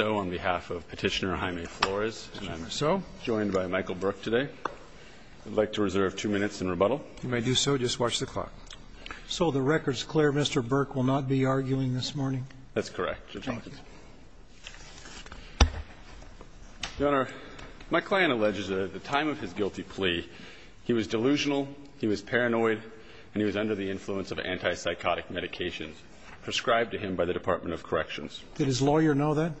on behalf of Petitioner Jaime Flores, and I'm joined by Michael Burke today. I'd like to reserve two minutes in rebuttal. If you may do so, just watch the clock. So the record's clear. Mr. Burke will not be arguing this morning? That's correct. Thank you. Your Honor, my client alleges that at the time of his guilty plea, he was delusional, he was paranoid, and he was under the influence of antipsychotic medications prescribed to him by the Department of Corrections. Did his lawyer know that?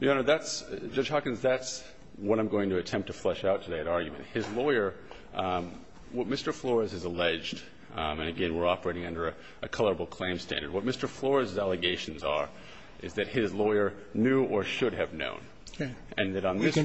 Your Honor, that's – Judge Hawkins, that's what I'm going to attempt to flesh out today, that argument. His lawyer – what Mr. Flores has alleged, and again, we're operating under a colorable claim standard. What Mr. Flores's allegations are is that his lawyer knew or should have known. Okay. And that on this record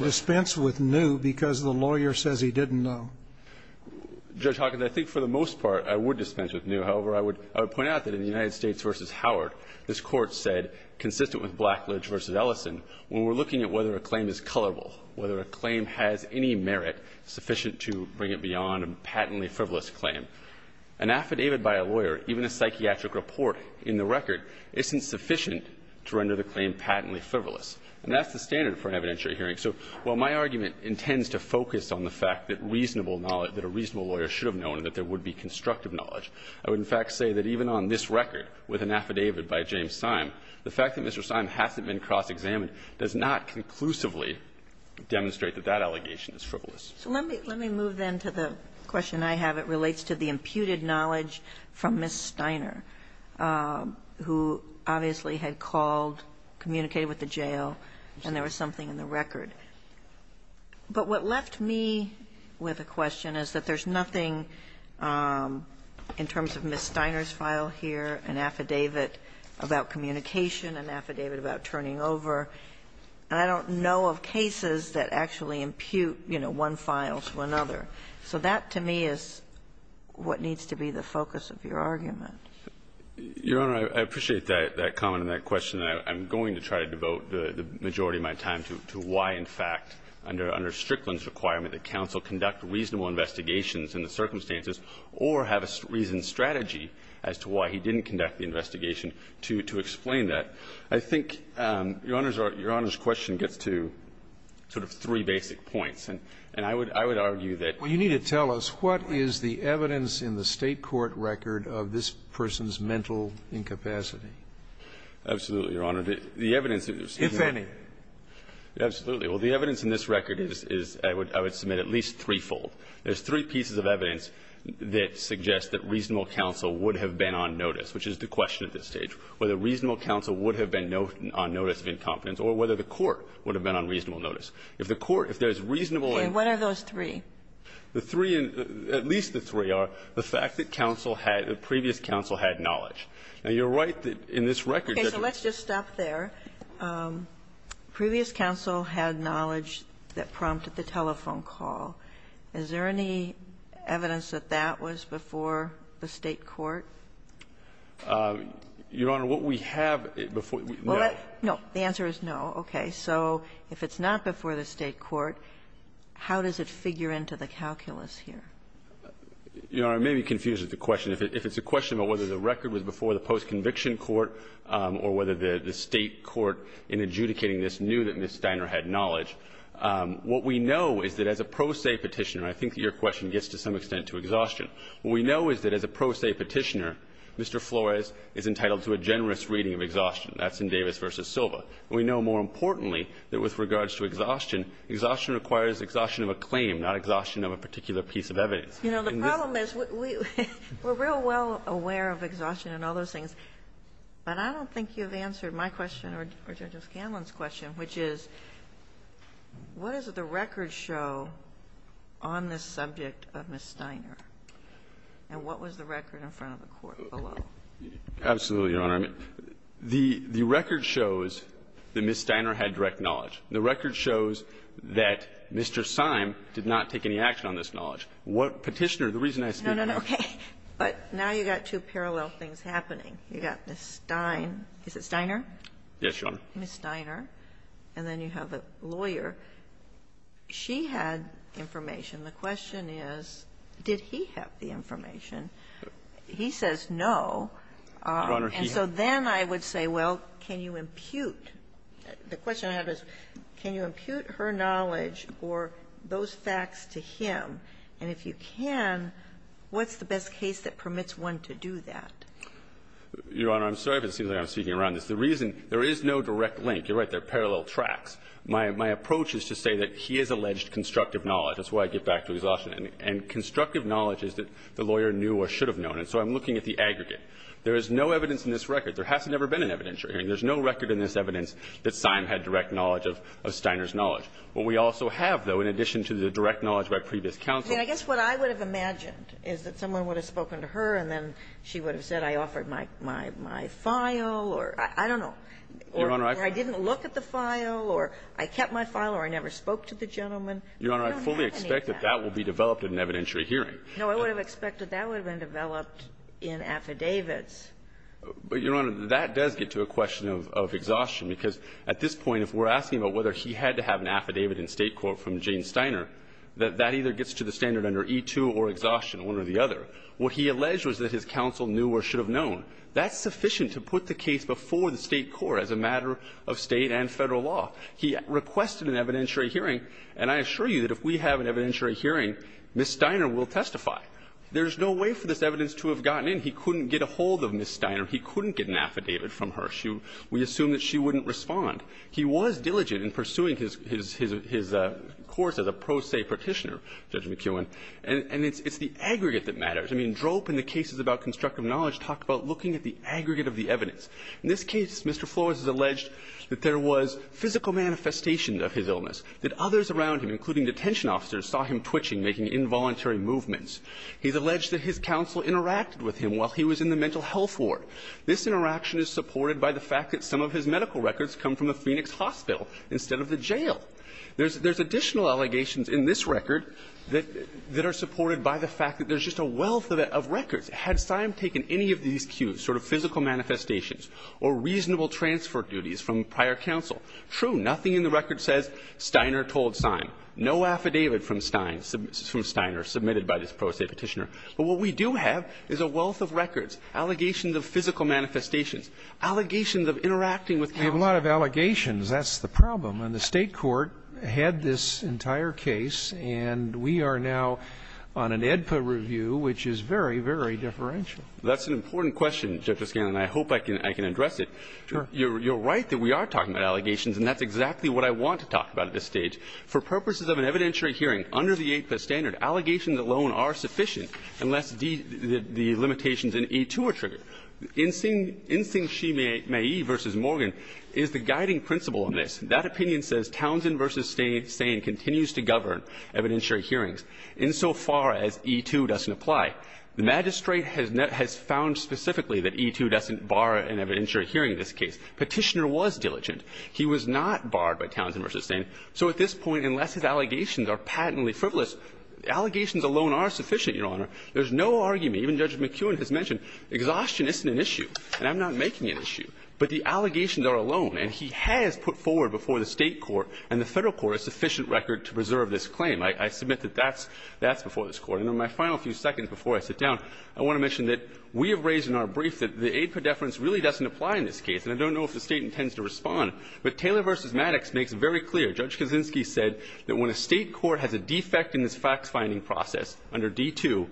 – Judge Hawkins, I think for the most part I would dispense with new. However, I would point out that in the United States v. Howard, this Court said, consistent with Blackledge v. Ellison, when we're looking at whether a claim is colorable, whether a claim has any merit sufficient to bring it beyond a patently frivolous claim, an affidavit by a lawyer, even a psychiatric report in the record, isn't sufficient to render the claim patently frivolous. And that's the standard for an evidentiary hearing. So while my argument intends to focus on the fact that reasonable knowledge that a reasonable lawyer should have known and that there would be constructive knowledge, I would, in fact, say that even on this record with an affidavit by James Syme, the fact that Mr. Syme hasn't been cross-examined does not conclusively demonstrate that that allegation is frivolous. So let me – let me move then to the question I have. It relates to the imputed knowledge from Ms. Steiner, who obviously had called, communicated with the jail, and there was something in the record. But what left me with a question is that there's nothing in terms of Ms. Steiner's file here, an affidavit about communication, an affidavit about turning over. And I don't know of cases that actually impute, you know, one file to another. So that, to me, is what needs to be the focus of your argument. Your Honor, I appreciate that comment and that question. And I'm going to try to devote the majority of my time to why, in fact, under Strickland's requirement that counsel conduct reasonable investigations in the circumstances or have a reasoned strategy as to why he didn't conduct the investigation to explain that. I think Your Honor's question gets to sort of three basic points. And I would argue that you need to tell us what is the evidence in the State court record of this person's mental incapacity. Absolutely. Your Honor, the evidence is not the evidence in this record is at least threefold. There's three pieces of evidence that suggest that reasonable counsel would have been on notice, which is the question at this stage, whether reasonable counsel would have been on notice of incompetence or whether the court would have been on reasonable notice. If the court, if there's reasonable and the three, at least the three are the fact that counsel had, the previous counsel had knowledge. Now, you're right that in this record that the ---- Okay. So let's just stop there. Previous counsel had knowledge that prompted the telephone call. Is there any evidence that that was before the State court? Your Honor, what we have before ---- Well, let's ---- No. The answer is no. Okay. So if it's not before the State court, how does it figure into the calculus here? Your Honor, I may be confused with the question. If it's a question about whether the record was before the post-conviction court or whether the State court in adjudicating this knew that Ms. Steiner had knowledge, what we know is that as a pro se Petitioner, I think your question gets to some extent to exhaustion. What we know is that as a pro se Petitioner, Mr. Flores is entitled to a generous reading of exhaustion. That's in Davis v. Silva. We know more importantly that with regards to exhaustion, exhaustion requires exhaustion of a claim, not exhaustion of a particular piece of evidence. You know, the problem is we're real well aware of exhaustion and all those things. But I don't think you've answered my question or Judge O'Scanlan's question, which is what does the record show on this subject of Ms. Steiner? And what was the record in front of the court below? Absolutely, Your Honor. The record shows that Ms. Steiner had direct knowledge. The record shows that Mr. Syme did not take any action on this knowledge. What Petitioner, the reason I speak to that is that Ms. Steiner did not take any action The record shows that Mr. Syme did not take any action on this knowledge. The question is, did he have the information? He says no. And so then I would say, well, can you impute? The question I have is, can you impute her knowledge or those facts to him? And if you can, what's the best case that permits one to do that? Your Honor, I'm sorry, but it seems like I'm speaking around this. The reason there is no direct link. You're right, they're parallel tracks. My approach is to say that he has alleged constructive knowledge. That's why I get back to exhaustion. And constructive knowledge is that the lawyer knew or should have known. And so I'm looking at the aggregate. There is no evidence in this record. There hasn't ever been an evidence. I mean, there's no record in this evidence that Syme had direct knowledge of Steiner's knowledge. What we also have, though, in addition to the direct knowledge by previous counsel. I mean, I guess what I would have imagined is that someone would have spoken to her and then she would have said, I offered my file or I don't know, or I didn't look at the file or I kept my file or I never spoke to the gentleman. I don't have any of that. Your Honor, I fully expect that that will be developed in an evidentiary hearing. No, I would have expected that would have been developed in affidavits. But, Your Honor, that does get to a question of exhaustion, because at this point, if we're asking about whether he had to have an affidavit in State court from Jane Steiner, that that either gets to the standard under E-2 or exhaustion, one or the other. What he alleged was that his counsel knew or should have known. That's sufficient to put the case before the State court as a matter of State and Federal law. He requested an evidentiary hearing, and I assure you that if we have an evidentiary hearing, Ms. Steiner will testify. There's no way for this evidence to have gotten in. He couldn't get a hold of Ms. Steiner. He couldn't get an affidavit from her. We assume that she wouldn't respond. He was diligent in pursuing his course as a pro se Petitioner, Judge McKeown. And it's the aggregate that matters. I mean, Drope in the cases about constructive knowledge talked about looking at the aggregate of the evidence. In this case, Mr. Flores has alleged that there was physical manifestation of his illness, that others around him, including detention officers, saw him twitching, making involuntary movements. He's alleged that his counsel interacted with him while he was in the mental health ward. This interaction is supported by the fact that some of his medical records come from the Phoenix Hospital instead of the jail. There's additional allegations in this record that are supported by the fact that there's just a wealth of records. Had Steiner taken any of these cues, sort of physical manifestations or reasonable transfer duties from prior counsel? True, nothing in the record says Steiner told Steiner. No affidavit from Steiner submitted by this pro se Petitioner. But what we do have is a wealth of records, allegations of physical manifestations, allegations of interacting with counsel. We have a lot of allegations. That's the problem. And the State court had this entire case, and we are now on an AEDPA review, which is very, very differential. That's an important question, Justice Kennedy, and I hope I can address it. Sure. You're right that we are talking about allegations, and that's exactly what I want to talk about at this stage. For purposes of an evidentiary hearing, under the AEDPA standard, allegations alone are sufficient unless the limitations in E-2 are triggered. Insing Shih-Mei versus Morgan is the guiding principle on this. That opinion says Townsend versus Steyn continues to govern evidentiary hearings insofar as E-2 doesn't apply. The magistrate has found specifically that E-2 doesn't bar an evidentiary hearing in this case. Petitioner was diligent. He was not barred by Townsend versus Steyn. So at this point, unless his allegations are patently frivolous, allegations alone are sufficient, Your Honor. There's no argument. Even Judge McKeown has mentioned exhaustion isn't an issue, and I'm not making an issue. But the allegations are alone, and he has put forward before the State court and the Federal court a sufficient record to preserve this claim. I submit that that's before this Court. And in my final few seconds before I sit down, I want to mention that we have raised in our brief that the AEDPA deference really doesn't apply in this case, and I don't know if the State intends to respond. But Taylor v. Maddox makes it very clear. Judge Kaczynski said that when a State court has a defect in this fact-finding process under D-2,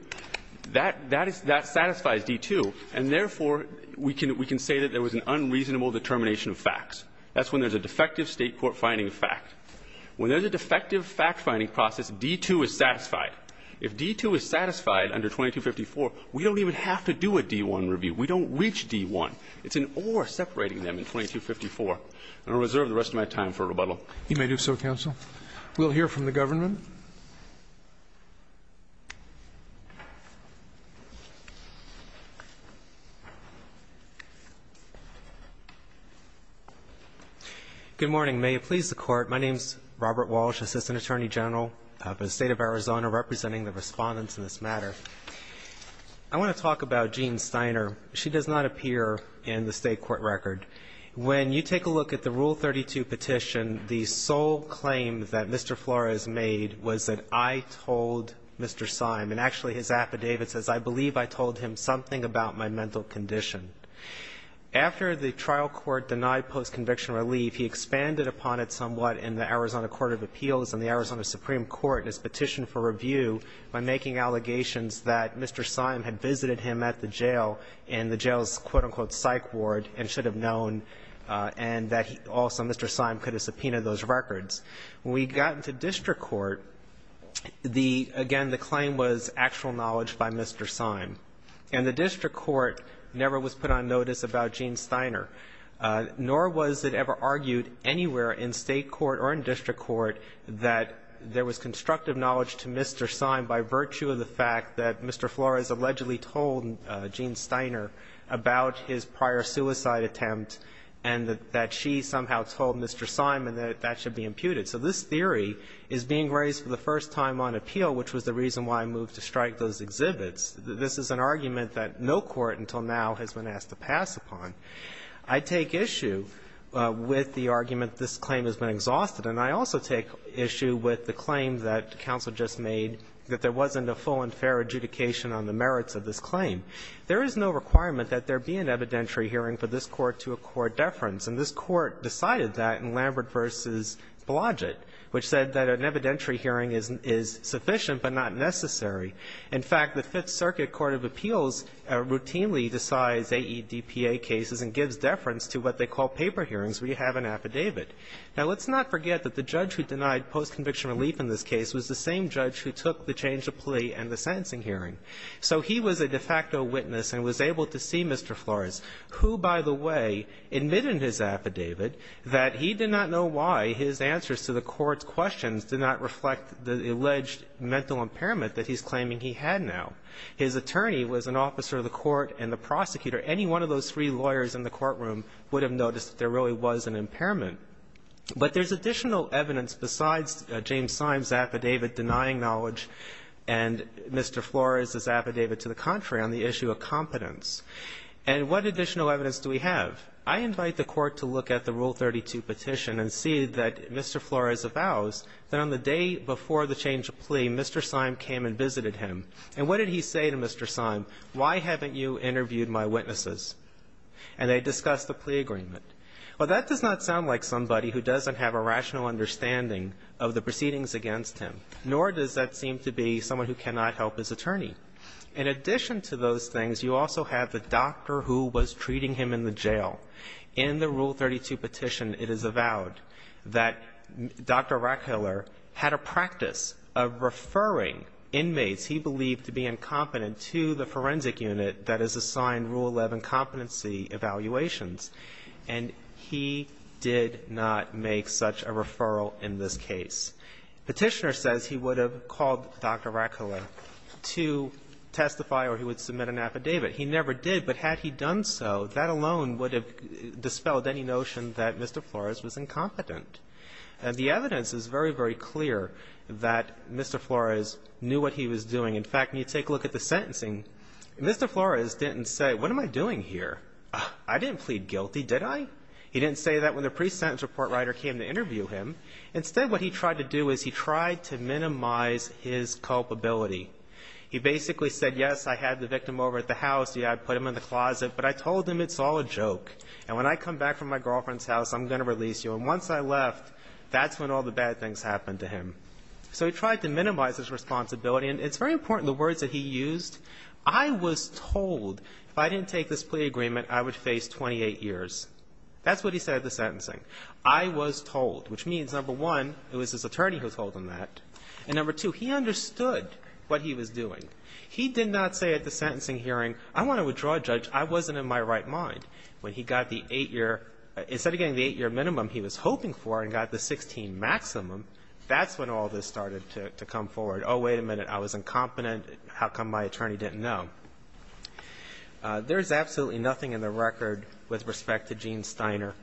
that satisfies D-2, and therefore, we can say that there was an unreasonable determination of facts. That's when there's a defective State court finding of fact. When there's a defective fact-finding process, D-2 is satisfied. If D-2 is satisfied under 2254, we don't even have to do a D-1 review. We don't reach D-1. It's an or separating them in 2254. I'm going to reserve the rest of my time for rebuttal. You may do so, Counsel. We'll hear from the government. Good morning. May it please the Court. My name is Robert Walsh, Assistant Attorney General of the State of Arizona, representing the Respondents in this matter. I want to talk about Jean Steiner. She does not appear in the State court record. When you take a look at the Rule 32 petition, the sole claim that Mr. Flores made was that I told Mr. Syme, and actually, his affidavit says, I believe I told him something about my mental condition. After the trial court denied post-conviction relief, he expanded upon it somewhat in the Arizona Court of Appeals and the Arizona Supreme Court in his petition for review by making allegations that Mr. Syme had visited him at the jail in the afternoon and that also Mr. Syme could have subpoenaed those records. When we got to district court, the — again, the claim was actual knowledge by Mr. Syme. And the district court never was put on notice about Jean Steiner, nor was it ever argued anywhere in State court or in district court that there was constructive knowledge to Mr. Syme by virtue of the fact that Mr. Flores allegedly told Jean Steiner about his prior suicide attempt and that she somehow told Mr. Syme and that that should be imputed. So this theory is being raised for the first time on appeal, which was the reason why I moved to strike those exhibits. This is an argument that no court until now has been asked to pass upon. I take issue with the argument this claim has been exhausted, and I also take issue with the claim that counsel just made that there wasn't a full and fair adjudication on the merits of this claim. There is no requirement that there be an evidentiary hearing for this Court to accord deference, and this Court decided that in Lambert v. Blodgett, which said that an evidentiary hearing is sufficient but not necessary. In fact, the Fifth Circuit Court of Appeals routinely decides AEDPA cases and gives deference to what they call paper hearings where you have an affidavit. Now, let's not forget that the judge who denied post-conviction relief in this case was the same judge who took the change of plea and the sentencing hearing. So he was a de facto witness and was able to see Mr. Flores, who, by the way, admitted in his affidavit that he did not know why his answers to the court's questions did not reflect the alleged mental impairment that he's claiming he had now. His attorney was an officer of the court and the prosecutor. Any one of those three lawyers in the courtroom would have noticed that there really was an impairment. But there's additional evidence besides James Syme's affidavit denying knowledge and Mr. Flores' affidavit to the contrary on the issue of competence. And what additional evidence do we have? I invite the Court to look at the Rule 32 petition and see that Mr. Flores avows that on the day before the change of plea, Mr. Syme came and visited him. And what did he say to Mr. Syme? Why haven't you interviewed my witnesses? And they discussed the plea agreement. Well, that does not sound like somebody who doesn't have a rational understanding of the proceedings against him. Nor does that seem to be someone who cannot help his attorney. In addition to those things, you also have the doctor who was treating him in the jail. In the Rule 32 petition, it is avowed that Dr. Rackhiller had a practice of referring inmates he believed to be incompetent to the forensic unit that is assigned Rule 11 competency evaluations. And he did not make such a referral in this case. Petitioner says he would have called Dr. Rackhiller to testify or he would submit an affidavit. He never did. But had he done so, that alone would have dispelled any notion that Mr. Flores was incompetent. And the evidence is very, very clear that Mr. Flores knew what he was doing. In fact, when you take a look at the sentencing, Mr. Flores didn't say, what am I doing here? I didn't plead guilty, did I? He didn't say that when the pre-sentence report writer came to interview him. Instead, what he tried to do is he tried to minimize his culpability. He basically said, yes, I had the victim over at the house. Yeah, I put him in the closet. But I told him it's all a joke. And when I come back from my girlfriend's house, I'm going to release you. And once I left, that's when all the bad things happened to him. So he tried to minimize his responsibility. And it's very important, the words that he used, I was told if I didn't take this That's what he said at the sentencing. I was told, which means, number one, it was his attorney who told him that. And number two, he understood what he was doing. He did not say at the sentencing hearing, I want to withdraw a judge. I wasn't in my right mind. When he got the eight-year, instead of getting the eight-year minimum he was hoping for and got the 16 maximum, that's when all this started to come forward. Oh, wait a minute. I was incompetent. How come my attorney didn't know? There is absolutely nothing in the record with respect to Gene Steiner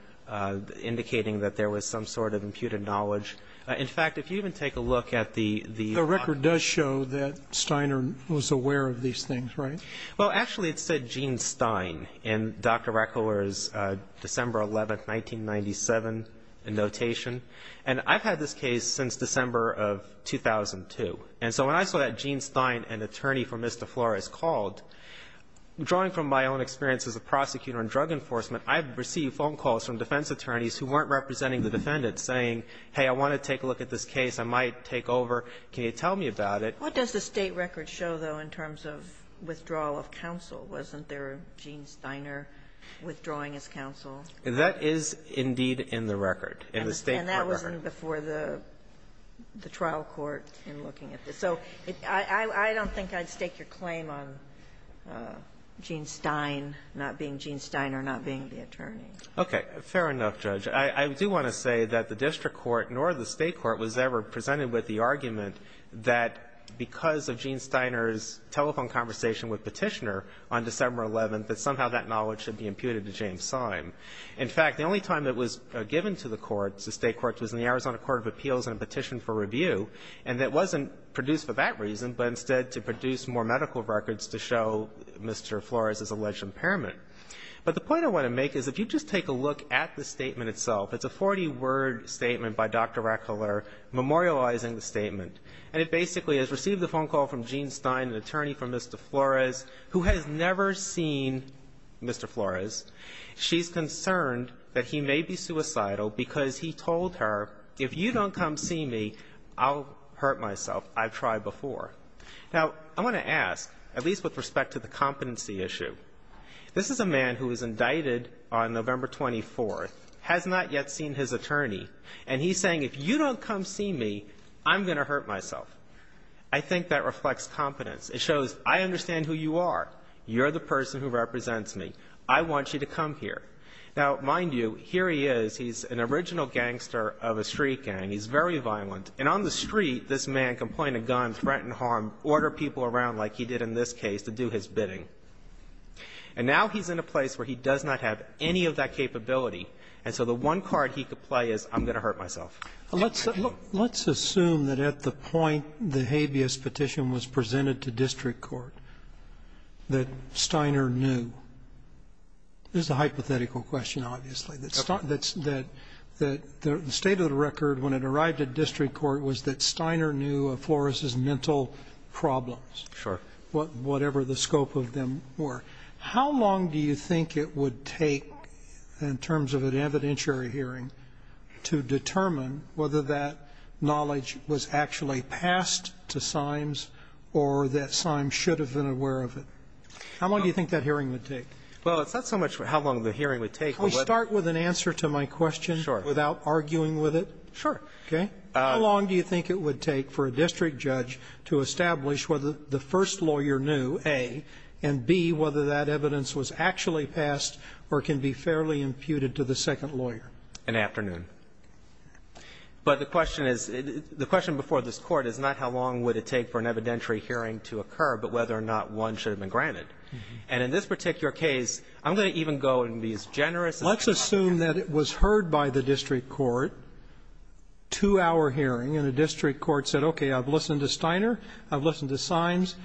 indicating that there was some sort of imputed knowledge. In fact, if you even take a look at the The record does show that Steiner was aware of these things, right? Well, actually, it said Gene Stein in Dr. Reckler's December 11, 1997, notation. And I've had this case since December of 2002. And so when I saw that Gene Stein, an attorney for Ms. DeFlores, called, drawing from my own experience as a prosecutor in drug enforcement, I've received phone calls from defense attorneys who weren't representing the defendant saying, hey, I want to take a look at this case. I might take over. Can you tell me about it? What does the State record show, though, in terms of withdrawal of counsel? Wasn't there a Gene Steiner withdrawing his counsel? That is indeed in the record, in the State court record. It wasn't before the trial court in looking at this. So I don't think I'd stake your claim on Gene Stein not being Gene Steiner, not being the attorney. Okay. Fair enough, Judge. I do want to say that the district court nor the State court was ever presented with the argument that because of Gene Steiner's telephone conversation with Petitioner on December 11th, that somehow that knowledge should be imputed to James Syme. In fact, the only time it was given to the courts, the State courts, was in the Arizona Court of Appeals in a petition for review, and that wasn't produced for that reason, but instead to produce more medical records to show Mr. Flores' alleged impairment. But the point I want to make is if you just take a look at the statement itself, it's a 40-word statement by Dr. Rackhiller memorializing the statement, and it basically has received a phone call from Gene Stein, an attorney for Mr. Flores, who has never seen Mr. Flores. She's concerned that he may be suicidal because he told her, if you don't come see me, I'll hurt myself. I've tried before. Now, I want to ask, at least with respect to the competency issue, this is a man who was indicted on November 24th, has not yet seen his attorney, and he's saying, if you don't come see me, I'm going to hurt myself. I think that reflects competence. It shows I understand who you are. You're the person who represents me. I want you to come here. Now, mind you, here he is. He's an original gangster of a street gang. He's very violent. And on the street, this man can point a gun, threaten harm, order people around like he did in this case to do his bidding. And now he's in a place where he does not have any of that capability, and so the one card he could play is, I'm going to hurt myself. Let's assume that at the point the habeas petition was presented to district court that Steiner knew. This is a hypothetical question, obviously. The state of the record when it arrived at district court was that Steiner knew of Flores' mental problems, whatever the scope of them were. How long do you think it would take in terms of an evidentiary hearing to establish whether the first lawyer knew, A, and, B, whether that evidence was actually passed or can be fairly imputed to the second lawyer? An afternoon. But the question is, the question before this Court is not how long would it take for an evidentiary hearing to occur, but whether the first lawyer knew, A, and, B, lawyer. The question is whether or not one should have been granted. And in this particular case, I'm going to even go and be as generous as possible. Let's assume that it was heard by the district court, two-hour hearing, and the district court said, okay, I've listened to Steiner, I've listened to Symes.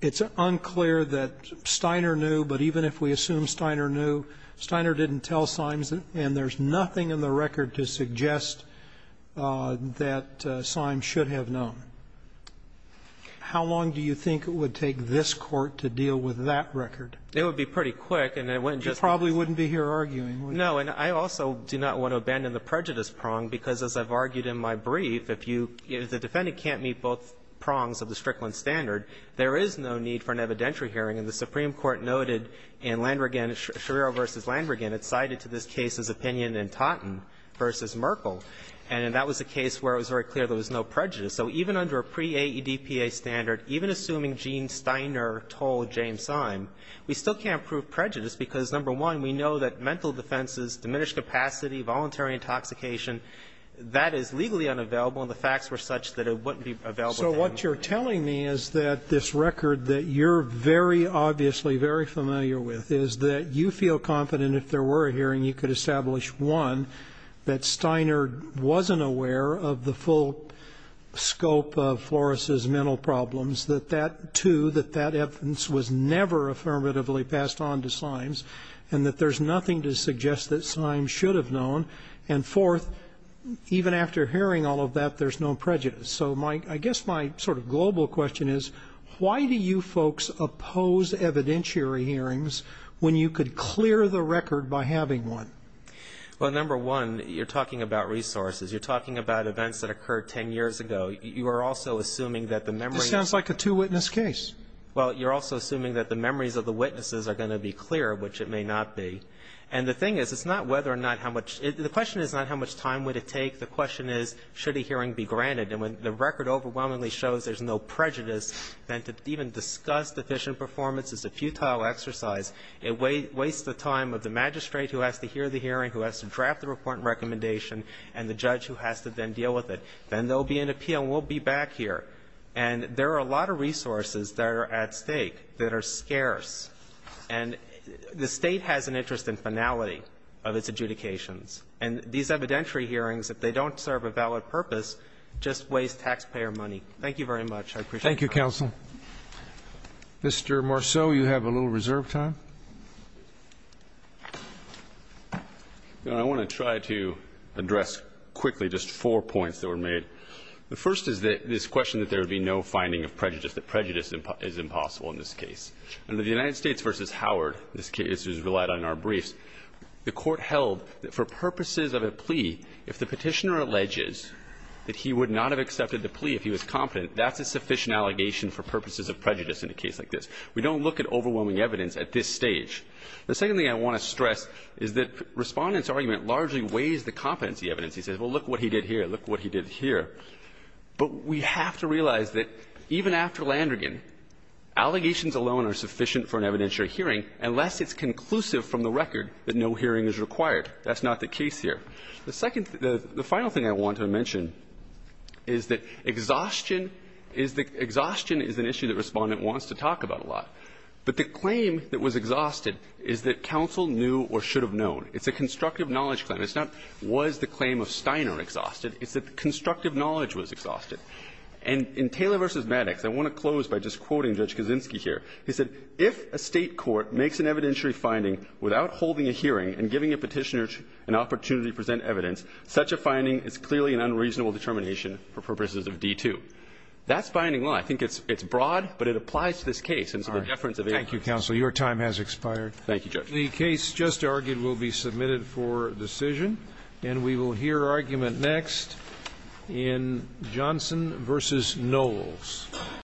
It's unclear that Steiner knew, but even if we assume Steiner knew, Steiner didn't tell Symes, and there's nothing in the record to suggest that Symes should have known. How long do you think it would take this Court to deal with that record? It would be pretty quick, and it wouldn't just be You probably wouldn't be here arguing, would you? No. And I also do not want to abandon the prejudice prong, because as I've argued in my brief, if you the defendant can't meet both prongs of the Strickland standard, there is no need for an evidentiary hearing. And the Supreme Court noted in Landrigan, Schirero v. Landrigan, it cited to this case's opinion in Totten v. Merkel. And that was a case where it was very clear there was no prejudice. So even under a pre-AEDPA standard, even assuming Gene Steiner told James Symes, we still can't prove prejudice, because number one, we know that mental defenses, diminished capacity, voluntary intoxication, that is legally unavailable, and the facts were such that it wouldn't be available to him. So what you're telling me is that this record that you're very obviously very familiar with is that you feel confident if there were a hearing, you could establish, one, that Steiner wasn't aware of the full scope of Flores' mental problems, that that, two, that that evidence was never affirmatively passed on to Symes, and that there's nothing to suggest that Symes should have known, and fourth, even after hearing all of that, there's no prejudice. So I guess my sort of global question is, why do you folks oppose evidentiary hearings when you could clear the record by having one? Well, number one, you're talking about resources. You're talking about events that occurred ten years ago. You are also assuming that the memory of the witnesses are going to be clear, which it may not be. And the thing is, it's not whether or not how much, the question is not how much time would it take. The question is, should a hearing be granted? And when the record overwhelmingly shows there's no prejudice, then to even discuss deficient performance is a futile exercise. It wastes the time of the magistrate who has to hear the hearing, who has to draft the report and recommendation, and the judge who has to then deal with it. Then there will be an appeal, and we'll be back here. And there are a lot of resources that are at stake that are scarce. And the State has an interest in finality of its adjudications. And these evidentiary hearings, if they don't serve a valid purpose, just waste taxpayer money. Thank you very much. I appreciate it. Thank you, counsel. Mr. Marceau, you have a little reserve time. I want to try to address quickly just four points that were made. The first is this question that there would be no finding of prejudice, that prejudice is impossible in this case. Under the United States v. Howard, this case is relied on in our briefs, the court held that for purposes of a plea, if the Petitioner alleges that he would not have for purposes of prejudice in a case like this. We don't look at overwhelming evidence at this stage. The second thing I want to stress is that Respondent's argument largely weighs the competency evidence. He says, well, look what he did here, look what he did here. But we have to realize that even after Landrigan, allegations alone are sufficient for an evidentiary hearing unless it's conclusive from the record that no hearing is required. That's not the case here. The final thing I want to mention is that exhaustion is an issue that Respondent wants to talk about a lot. But the claim that was exhausted is that counsel knew or should have known. It's a constructive knowledge claim. It's not was the claim of Steiner exhausted. It's that constructive knowledge was exhausted. And in Taylor v. Maddox, I want to close by just quoting Judge Kaczynski here. He said, If a state court makes an evidentiary finding without holding a hearing and giving a petitioner an opportunity to present evidence, such a finding is clearly an unreasonable determination for purposes of D-2. That's binding law. I think it's broad, but it applies to this case. And so the deference of evidence. Thank you, counsel. Your time has expired. Thank you, Judge. The case just argued will be submitted for decision. And we will hear argument next in Johnson v. Knowles.